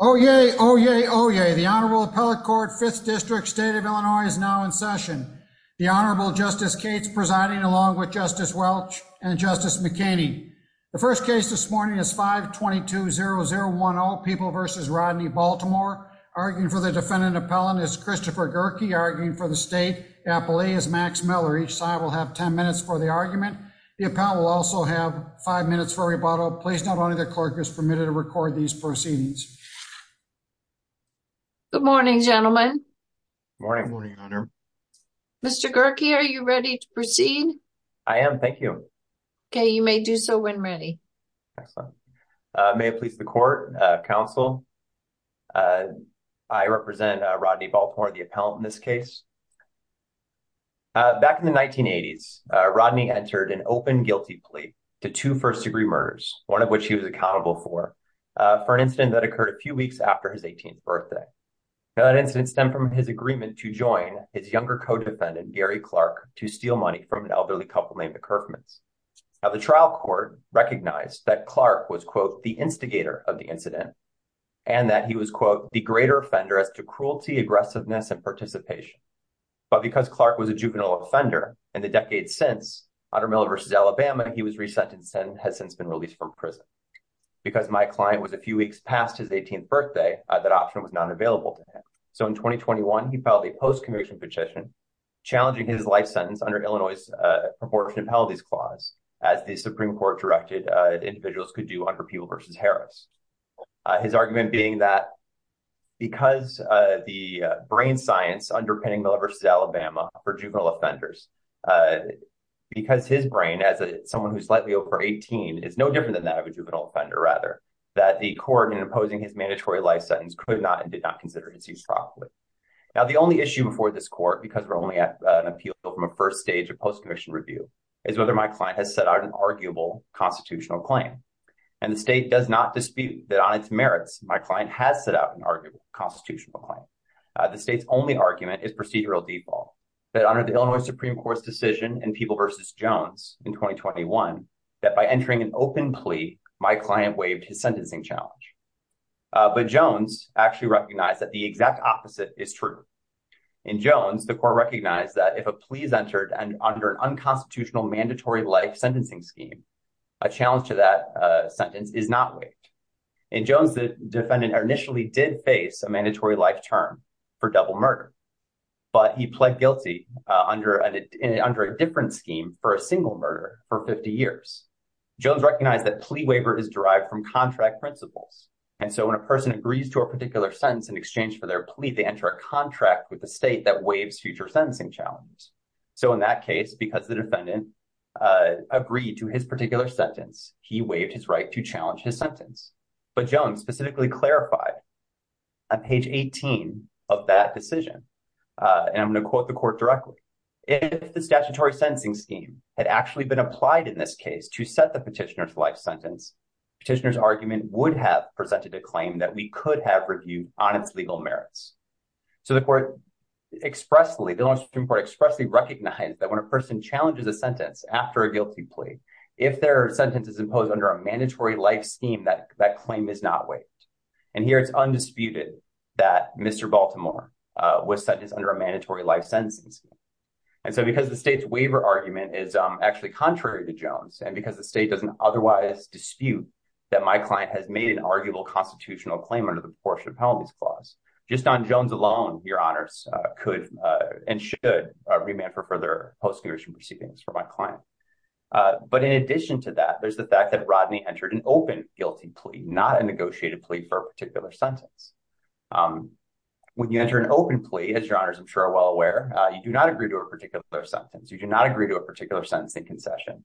Oyez, oyez, oyez. The Honorable Appellate Court, 5th District, State of Illinois is now in session. The Honorable Justice Cates presiding along with Justice Welch and Justice McKinney. The first case this morning is 522-0010, People v. Rodney Baltimore. Arguing for the defendant appellant is Christopher Gerke. Arguing for the state appellee is Max Miller. Each side will have 10 minutes for the argument. The appellant will also have five minutes for rebuttal. Please, Your Honor, the court is permitted to record these proceedings. Good morning, gentlemen. Good morning, Your Honor. Mr. Gerke, are you ready to proceed? I am, thank you. Okay, you may do so when ready. Excellent. May it please the Court, Counsel, I represent Rodney Baltimore, the appellant in this case. Back in the 1980s, Rodney entered an open guilty plea to two first-degree murders, one of which he was accountable for, for an incident that occurred a few weeks after his 18th birthday. Now, that incident stemmed from his agreement to join his younger co-defendant, Gary Clark, to steal money from an elderly couple named the Kerfmans. Now, the trial court recognized that Clark was, quote, the instigator of the incident and that he was, quote, the greater offender as to cruelty, aggressiveness, and participation. But because Clark was a juvenile offender in the decades since, under Miller v. Alabama, he was resentenced and has since been released from prison. Because my client was a few weeks past his 18th birthday, that option was not available to him. So in 2021, he filed a post-conviction petition challenging his life sentence under Illinois' proportionate penalties clause, as the Supreme Court directed individuals could do under Peeble v. Harris. His argument being that because the brain science underpinning Miller v. Alabama for juvenile offenders, because his brain, as someone who's slightly over 18, is no different than that of a juvenile offender, rather, that the court, in imposing his mandatory life sentence, could not and did not consider his use properly. Now, the only issue before this court, because we're only at an appeal from a first stage of post-conviction review, is whether my client has set out an arguable constitutional claim. And the state does not dispute that on its merits, my client has set out an arguable constitutional claim. The state's only argument is procedural default that under the Illinois Supreme Court's decision in Peeble v. Jones in 2021, that by entering an open plea, my client waived his sentencing challenge. But Jones actually recognized that the exact opposite is true. In Jones, the court recognized that if a plea is entered under an unconstitutional mandatory life sentencing scheme, a challenge to that sentence is not waived. In Jones, the defendant initially did face a mandatory life term for double murder, but he under a different scheme for a single murder for 50 years. Jones recognized that plea waiver is derived from contract principles. And so when a person agrees to a particular sentence in exchange for their plea, they enter a contract with the state that waives future sentencing challenge. So in that case, because the defendant agreed to his particular sentence, he waived his right to challenge his sentence. But Jones specifically clarified on page 18 of that court directly. If the statutory sentencing scheme had actually been applied in this case to set the petitioner's life sentence, petitioner's argument would have presented a claim that we could have reviewed on its legal merits. So the court expressly, the Illinois Supreme Court expressly recognized that when a person challenges a sentence after a guilty plea, if their sentence is imposed under a mandatory life scheme, that claim is not waived. And here it's undisputed that Mr. Baltimore was under a mandatory life sentencing scheme. And so because the state's waiver argument is actually contrary to Jones, and because the state doesn't otherwise dispute that my client has made an arguable constitutional claim under the proportionate penalties clause, just on Jones alone, your honors could and should remand for further post-congressional proceedings for my client. But in addition to that, there's the fact that Rodney entered an open guilty plea, not a negotiated plea for a particular sentence. When you enter an open plea, as your honors I'm sure are well aware, you do not agree to a particular sentence. You do not agree to a particular sentence in concession.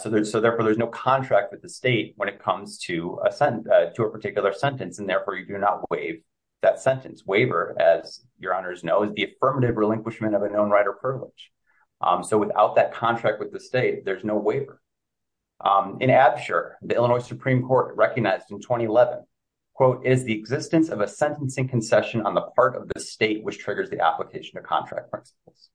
So therefore there's no contract with the state when it comes to a particular sentence, and therefore you do not waive that sentence. Waiver, as your honors know, is the affirmative relinquishment of a known right or privilege. So without that contract with the state in 2011, quote, is the existence of a sentencing concession on the part of the state which triggers the application of contract principles.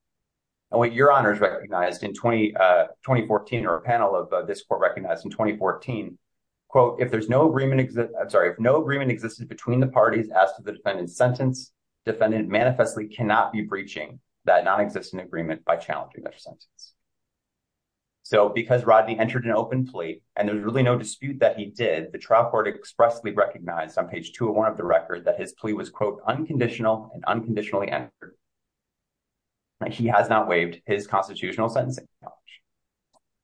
And what your honors recognized in 2014, or a panel of this court recognized in 2014, quote, if there's no agreement, I'm sorry, if no agreement existed between the parties as to the defendant's sentence, defendant manifestly cannot be breaching that nonexistent agreement by challenging their sentence. So because Rodney entered an open plea and there's really no dispute that he did, the trial court expressly recognized on page 201 of the record that his plea was, quote, unconditional and unconditionally entered. He has not waived his constitutional sentencing.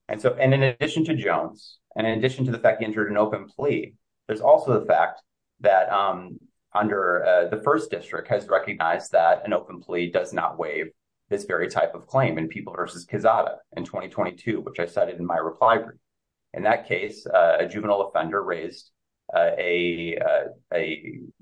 And so, and in addition to Jones, and in addition to the fact he entered an open plea, there's also the fact that under the first district has recognized that an open plea does not waive this very type of claim in People v. Quezada in 2022, which I cited in my reply brief. In that case, a juvenile offender raised a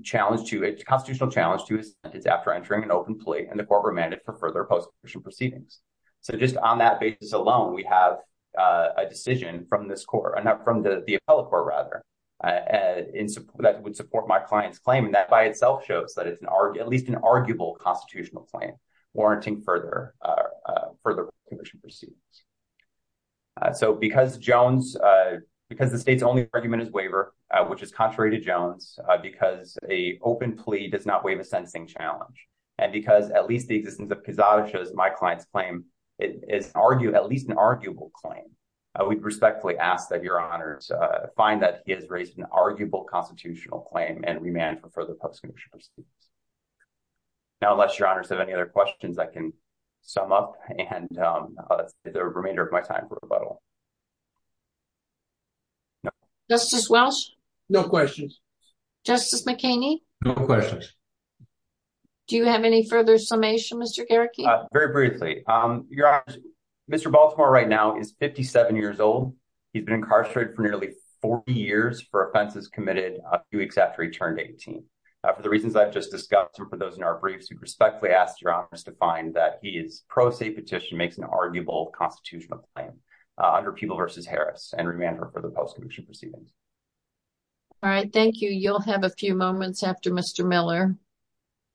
challenge to, a constitutional challenge to his sentence after entering an open plea, and the court remanded for further post-conviction proceedings. So just on that basis alone, we have a decision from this court, not from the appellate court rather, that would support my client's claim. And that by itself shows that it's at least an arguable constitutional claim warranting further, further post-conviction proceedings. So because Jones, because the state's only argument is waiver, which is contrary to Jones, because a open plea does not waive a sentencing challenge, and because at least the existence of Quezada shows my client's claim, it is argue, at least an arguable claim. I would respectfully ask that your honors find that he has raised an arguable constitutional claim and remand for further post-conviction proceedings. Now, unless your honors have any other questions, I can sum up and the remainder of my time. Justice Welch? No questions. Justice McKinney? No questions. Do you have any further summation, Mr. Garricky? Very briefly. Your honors, Mr. Baltimore right now is 57 years old. He's been incarcerated for nearly 40 years for offenses committed a few years ago. For those in our briefs, we respectfully ask your honors to find that his pro se petition makes an arguable constitutional claim under Peeble v. Harris and remand for further post-conviction proceedings. All right. Thank you. You'll have a few moments after Mr. Miller.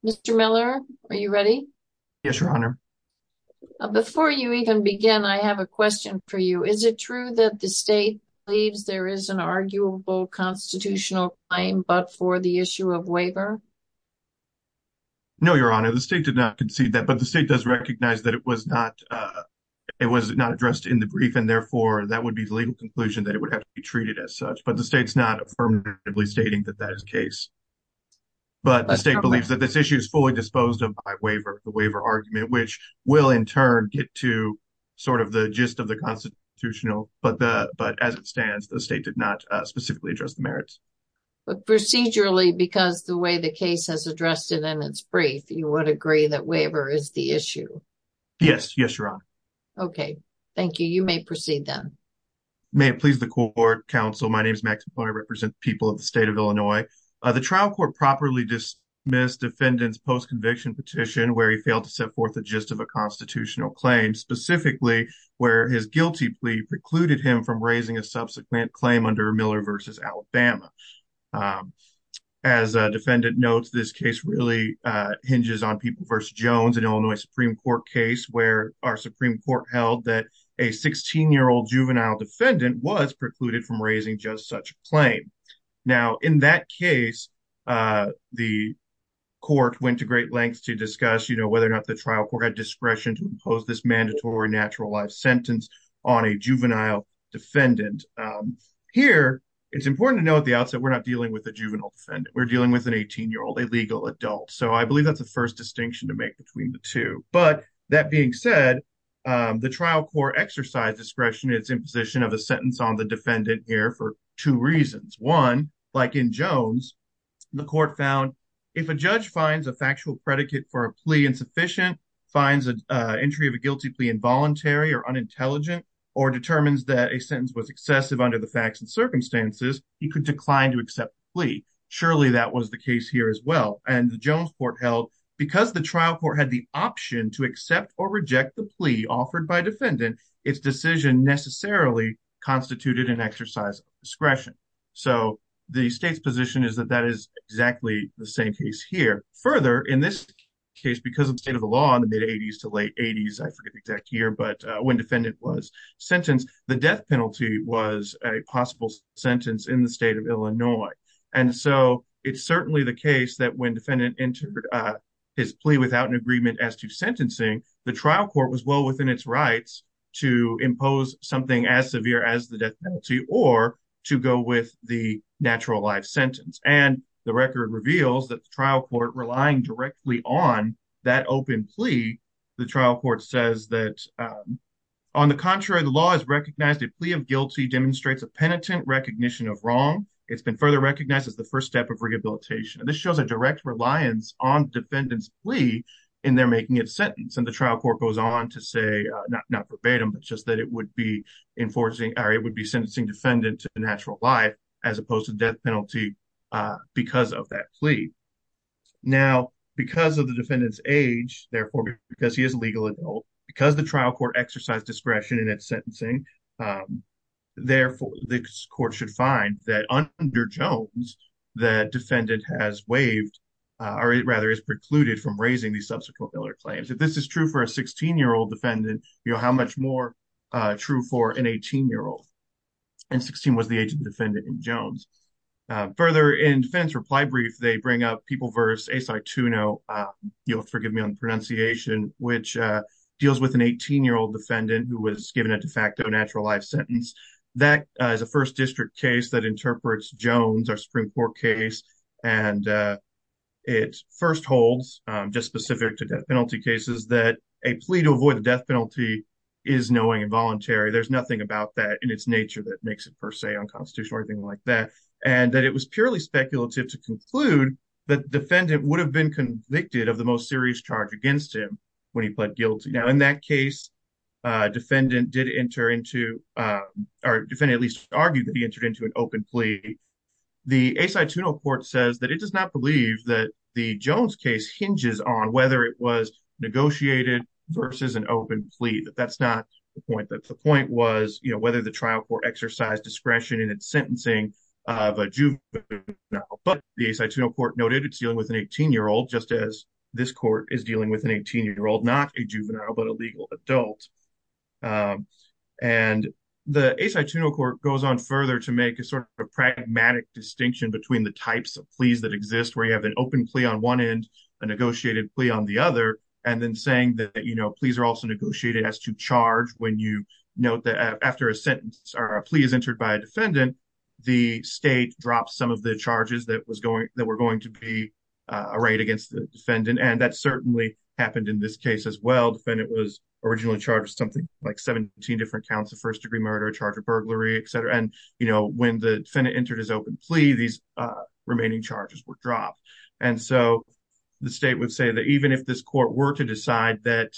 Mr. Miller, are you ready? Yes, your honor. Before you even begin, I have a question for you. Is it true that the state believes there is an arguable constitutional claim, but for the issue of waiver? No, your honor. The state did not concede that, but the state does recognize that it was not addressed in the brief and therefore that would be the legal conclusion that it would have to be treated as such, but the state's not affirmatively stating that that is the case. But the state believes that this issue is fully disposed of by waiver, the waiver argument, which will in turn get to sort of the gist of the constitutional, but as it stands, the state did specifically address the merits. But procedurally, because the way the case has addressed it in its brief, you would agree that waiver is the issue? Yes. Yes, your honor. Okay. Thank you. You may proceed then. May it please the court, counsel. My name is Max McCoy. I represent the people of the state of Illinois. The trial court properly dismissed defendant's post-conviction petition where he failed to set forth the gist of a constitutional claim, specifically where his Alabama. As a defendant notes, this case really hinges on People v. Jones, an Illinois Supreme Court case where our Supreme Court held that a 16-year-old juvenile defendant was precluded from raising just such a claim. Now, in that case, the court went to great lengths to discuss whether or not the trial court had discretion to impose this mandatory natural life sentence on a juvenile defendant. Here, it's important to note at the outset we're not dealing with a juvenile defendant. We're dealing with an 18-year-old, a legal adult. So I believe that's the first distinction to make between the two. But that being said, the trial court exercised discretion in its imposition of a sentence on the defendant here for two reasons. One, like in Jones, the court found if a judge finds a factual predicate for a plea insufficient, finds an entry of a guilty plea involuntary or unintelligent, or determines that a sentence was excessive under the facts and circumstances, he could decline to accept the plea. Surely that was the case here as well. And the Jones court held because the trial court had the option to accept or reject the plea offered by defendant, its decision necessarily constituted an exercise of discretion. So the state's position is that that is exactly the same case here. Further, in this case, because of state of the law in the mid-80s to late 80s, I forget the exact year, but when defendant was sentenced, the death penalty was a possible sentence in the state of Illinois. And so it's certainly the case that when defendant entered his plea without an agreement as to sentencing, the trial court was well within its rights to impose something as severe as the death penalty or to go with the natural life sentence. And the record reveals that the trial court relying directly on that open plea, the trial court says that, on the contrary, the law has recognized a plea of guilty demonstrates a penitent recognition of wrong. It's been further recognized as the first step of rehabilitation. This shows a direct reliance on defendant's plea in their making of sentence. And the trial court goes on to say, not verbatim, but just that it would be enforcing, or it would be sentencing defendant to the natural life, as opposed to death penalty, because of that plea. Now, because of the defendant's age, therefore, because he is a legal adult, because the trial court exercised discretion in its sentencing, therefore, the court should find that under Jones, the defendant has waived, or rather is precluded from raising the subsequent other claims. If this is true for a and 16 was the age of the defendant in Jones. Further, in defense reply brief, they bring up people verse a site to know, you'll forgive me on pronunciation, which deals with an 18 year old defendant who was given a de facto natural life sentence. That is a first district case that interprets Jones or Supreme Court case. And it first holds just specific to death penalty cases that a plea to avoid the death penalty is knowing involuntary, there's nothing about that in its nature that makes it per se unconstitutional or anything like that. And that it was purely speculative to conclude that defendant would have been convicted of the most serious charge against him when he pled guilty. Now, in that case, defendant did enter into our defendant, at least argued that he entered into an open plea. The a site to no court says that it does not believe that the Jones case hinges on whether it was negotiated versus an open plea that that's not the point that the point was, you know, whether the trial court exercise discretion in its sentencing of a juvenile, but the site to no court noted it's dealing with an 18 year old, just as this court is dealing with an 18 year old, not a juvenile, but a legal adult. And the a site to no court goes on further to make a sort of pragmatic distinction between the types of pleas that exist where you have an open plea on one end, a negotiated plea on the note that after a sentence or a plea is entered by a defendant, the state dropped some of the charges that was going that were going to be a right against the defendant. And that certainly happened in this case as well. Defendant was originally charged something like 17 different counts of first degree murder, charge of burglary, et cetera. And, you know, when the defendant entered his open plea, these remaining charges were dropped. And so the state would say that if this court were to decide that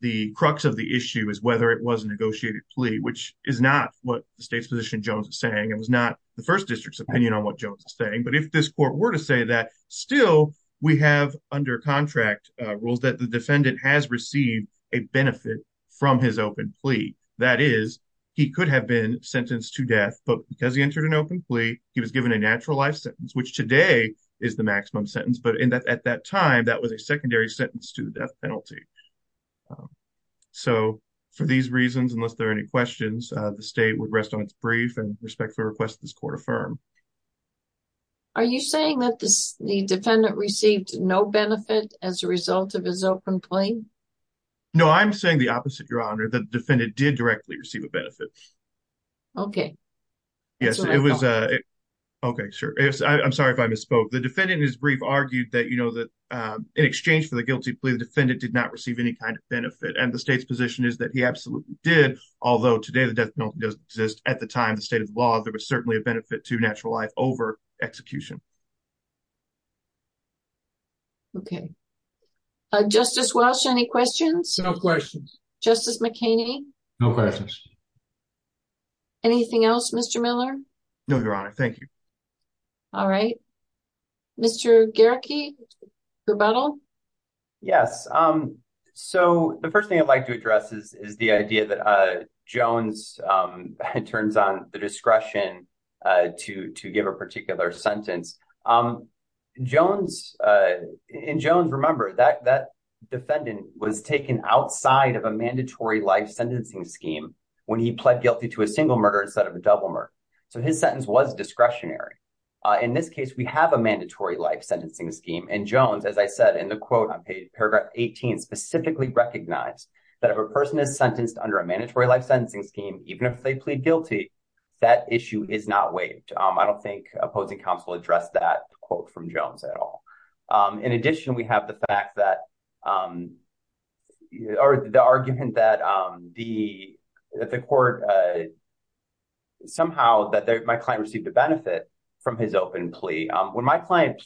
the crux of the issue is whether it was a negotiated plea, which is not what the state's position Jones is saying, it was not the first district's opinion on what Jones is saying. But if this court were to say that still, we have under contract rules that the defendant has received a benefit from his open plea. That is, he could have been sentenced to death, but because he entered an open plea, he was given a natural life sentence, which today is the maximum sentence. But at that time, that was a secondary sentence to the death penalty. So for these reasons, unless there are any questions, the state would rest on its brief and respectfully request this court affirm. Are you saying that the defendant received no benefit as a result of his open plea? No, I'm saying the opposite, Your Honor. The defendant did directly receive a benefit. Okay. Yes, it was. Okay, sure. I'm sorry if I misspoke. The defendant in his brief argued that, you know, that in exchange for the guilty plea, the defendant did not receive any kind of benefit. And the state's position is that he absolutely did. Although today, the death penalty does exist at the time, the state of the law, there was certainly a benefit to natural life over execution. Okay. Justice Welsh, any questions? No questions. Justice McKinney? No questions. Anything else, Mr. Miller? No, Your Honor. Thank you. All right. Mr. Gehrke, rebuttal? Yes. So the first thing I'd like to address is the idea that Jones turns on the discretion to give a particular sentence. In Jones, remember, that defendant was taken outside of a mandatory life sentencing scheme when he pled guilty to a single murder instead of a double murder. So his sentence was discretionary. In this case, we have a mandatory life sentencing scheme. And Jones, as I said in the quote on paragraph 18, specifically recognized that if a person is sentenced under a mandatory life sentencing scheme, even if they plead guilty, that issue is not waived. I don't think opposing counsel addressed that quote from Jones. The argument that the court somehow that my client received a benefit from his open plea, when my client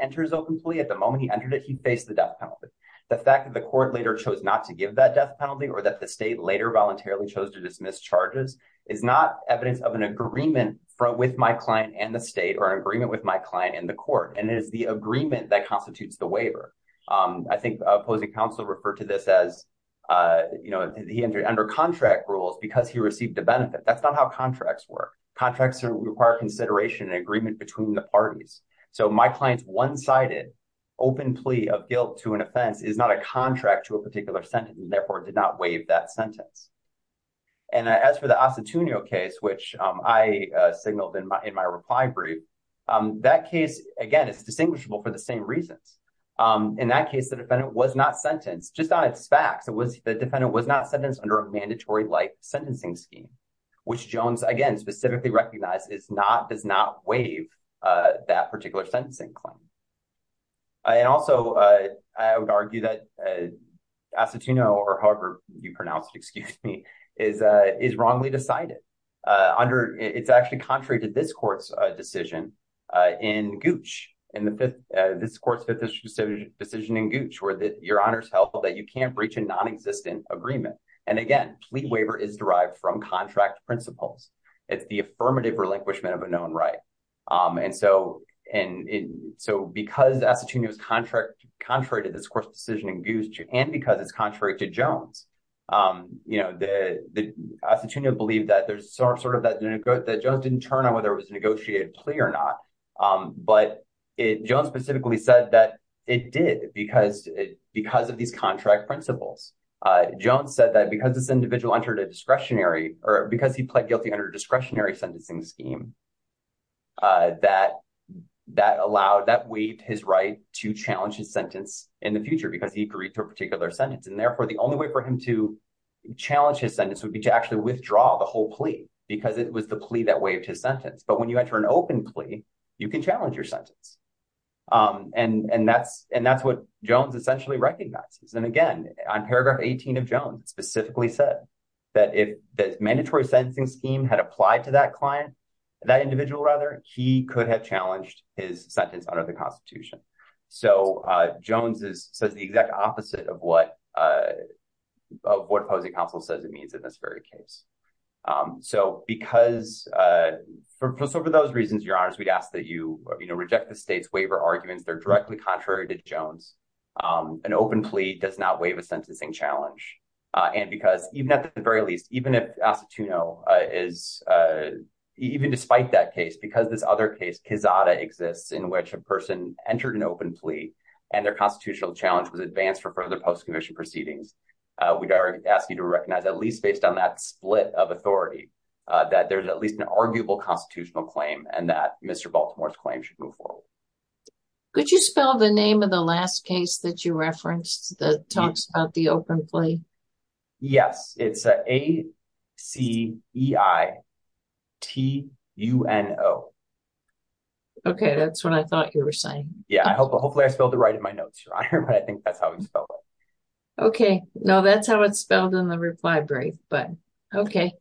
enters open plea, at the moment he entered it, he faced the death penalty. The fact that the court later chose not to give that death penalty or that the state later voluntarily chose to dismiss charges is not evidence of an agreement with my client and the state or an agreement with my client and the court. And it is the agreement that constitutes the waiver. I think opposing counsel referred to this as, you know, he entered under contract rules because he received a benefit. That's not how contracts work. Contracts require consideration and agreement between the parties. So my client's one-sided open plea of guilt to an offense is not a contract to a particular sentence and therefore did not waive that sentence. And as for the Acetunio case, which I signaled in my reply brief, that case, again, is distinguishable for the same reasons. In that case, the defendant was not sentenced just on its facts. The defendant was not sentenced under a mandatory life sentencing scheme, which Jones, again, specifically recognizes does not waive that particular sentencing claim. And also, I would argue that Acetunio or however you pronounce it, excuse me, is wrongly decided. It's actually contrary to this court's decision in Gooch, this court's fifth decision in Gooch, where your honors held that you can't breach a non-existent agreement. And again, plea waiver is derived from contract principles. It's the affirmative relinquishment of a known right. And so because Acetunio is contrary to this court's decision in Gooch and because it's contrary to Jones, you know, Acetunio believed that Jones didn't turn on whether it was a negotiated plea or not. But Jones specifically said that it did because of these contract principles. Jones said that because this individual entered a discretionary or because he pled guilty under a discretionary sentencing scheme, that waived his right to challenge his sentence in the future because he agreed to a particular sentence. And therefore, the only way for him to challenge his sentence would be to actually draw the whole plea because it was the plea that waived his sentence. But when you enter an open plea, you can challenge your sentence. And that's what Jones essentially recognizes. And again, on paragraph 18 of Jones, it specifically said that if the mandatory sentencing scheme had applied to that client, that individual rather, he could have challenged his sentence under the Constitution. So Jones says the exact opposite of what what opposing counsel says it means in this very case. So because for those reasons, your honors, we'd ask that you reject the state's waiver arguments. They're directly contrary to Jones. An open plea does not waive a sentencing challenge. And because even at the very least, even if Acetunio is even despite that case, because this other case, Quezada, exists in which a person entered an open plea, and their constitutional challenge was advanced for further post-commission proceedings, we'd ask you to recognize at least based on that split of authority, that there's at least an arguable constitutional claim and that Mr. Baltimore's claim should move forward. Could you spell the name of the last case that you referenced that talks about the open plea? Yes, it's A-C-E-I-T-U-N-O. Okay, that's what I thought you were saying. Yeah, hopefully I spelled it right in my notes, your honor, but I think that's how we spell it. Okay, no, that's how it's spelled in the reply brief, but okay.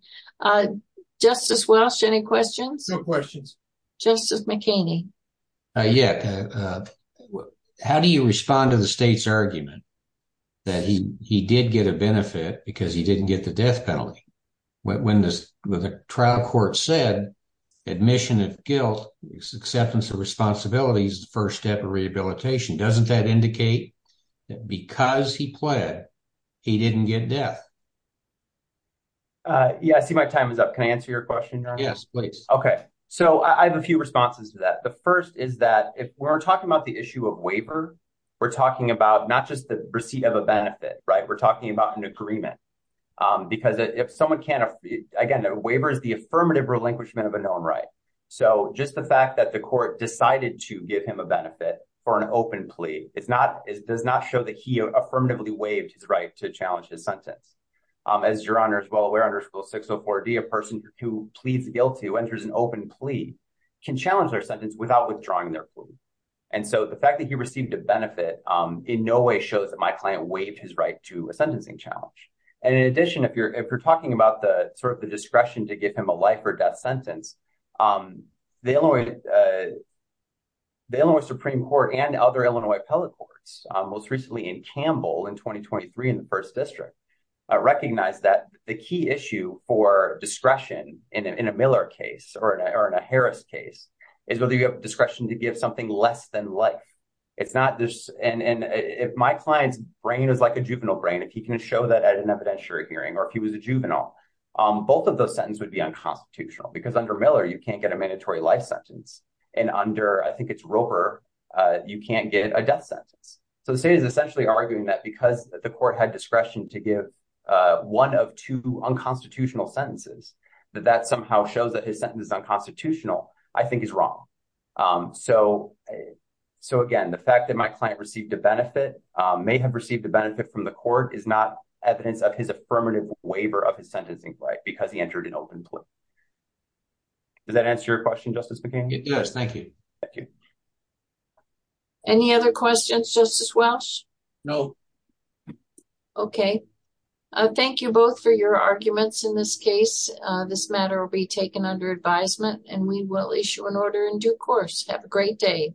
Justice Welch, any questions? No questions. Justice McKinney. Yeah, how do you respond to the state's argument that he did get a benefit because he didn't get the death penalty when the trial court said admission of guilt, acceptance of responsibility is the first step of rehabilitation? Doesn't that indicate that because he pled, he didn't get death? Yeah, I see my time is up. Can I answer your question, your honor? Yes, please. Okay, so I have a few responses to that. The first is that if we're talking about the issue of waiver, we're talking about not just the receipt of a benefit, right? We're talking about an agreement because if someone can't, again, a waiver is the affirmative relinquishment of a known right. So just the fact that the court decided to give him a benefit for an open plea, does not show that he affirmatively waived his right to challenge his sentence. As your honor is well aware, under school 604D, a person who pleads guilty, who enters an open plea, can challenge their sentence without withdrawing their clue. And so the fact that he received a benefit in no way shows that my client waived his right to a sentencing challenge. And in addition, if you're talking about the sort of the discretion to give him a life or death sentence, the Illinois Supreme Court and other Illinois appellate courts, most recently in Campbell in 2023 in the first district, recognized that the key issue for discretion in a Miller case, or in a Harris case, is whether you have discretion to give something less than life. It's not just... And if my client's brain is like a juvenile brain, if he can show that at an evidentiary hearing, or if he was a juvenile, both of those sentences would be unconstitutional. Because under Miller, you can't get a mandatory life sentence. And under, I think it's Roper, you can't get a death sentence. So the state is essentially arguing that because the court had discretion to give one of two unconstitutional sentences, that that somehow shows that his sentence is unconstitutional, I think is wrong. So again, the fact that my client may have received the benefit from the court is not evidence of his affirmative waiver of his sentencing right, because he entered an open plea. Does that answer your question, Justice McCain? It does. Thank you. Thank you. Any other questions, Justice Welsh? No. Okay. Thank you both for your arguments in this case. This matter will be taken under advisement and we will issue an order in due course. Have a great day.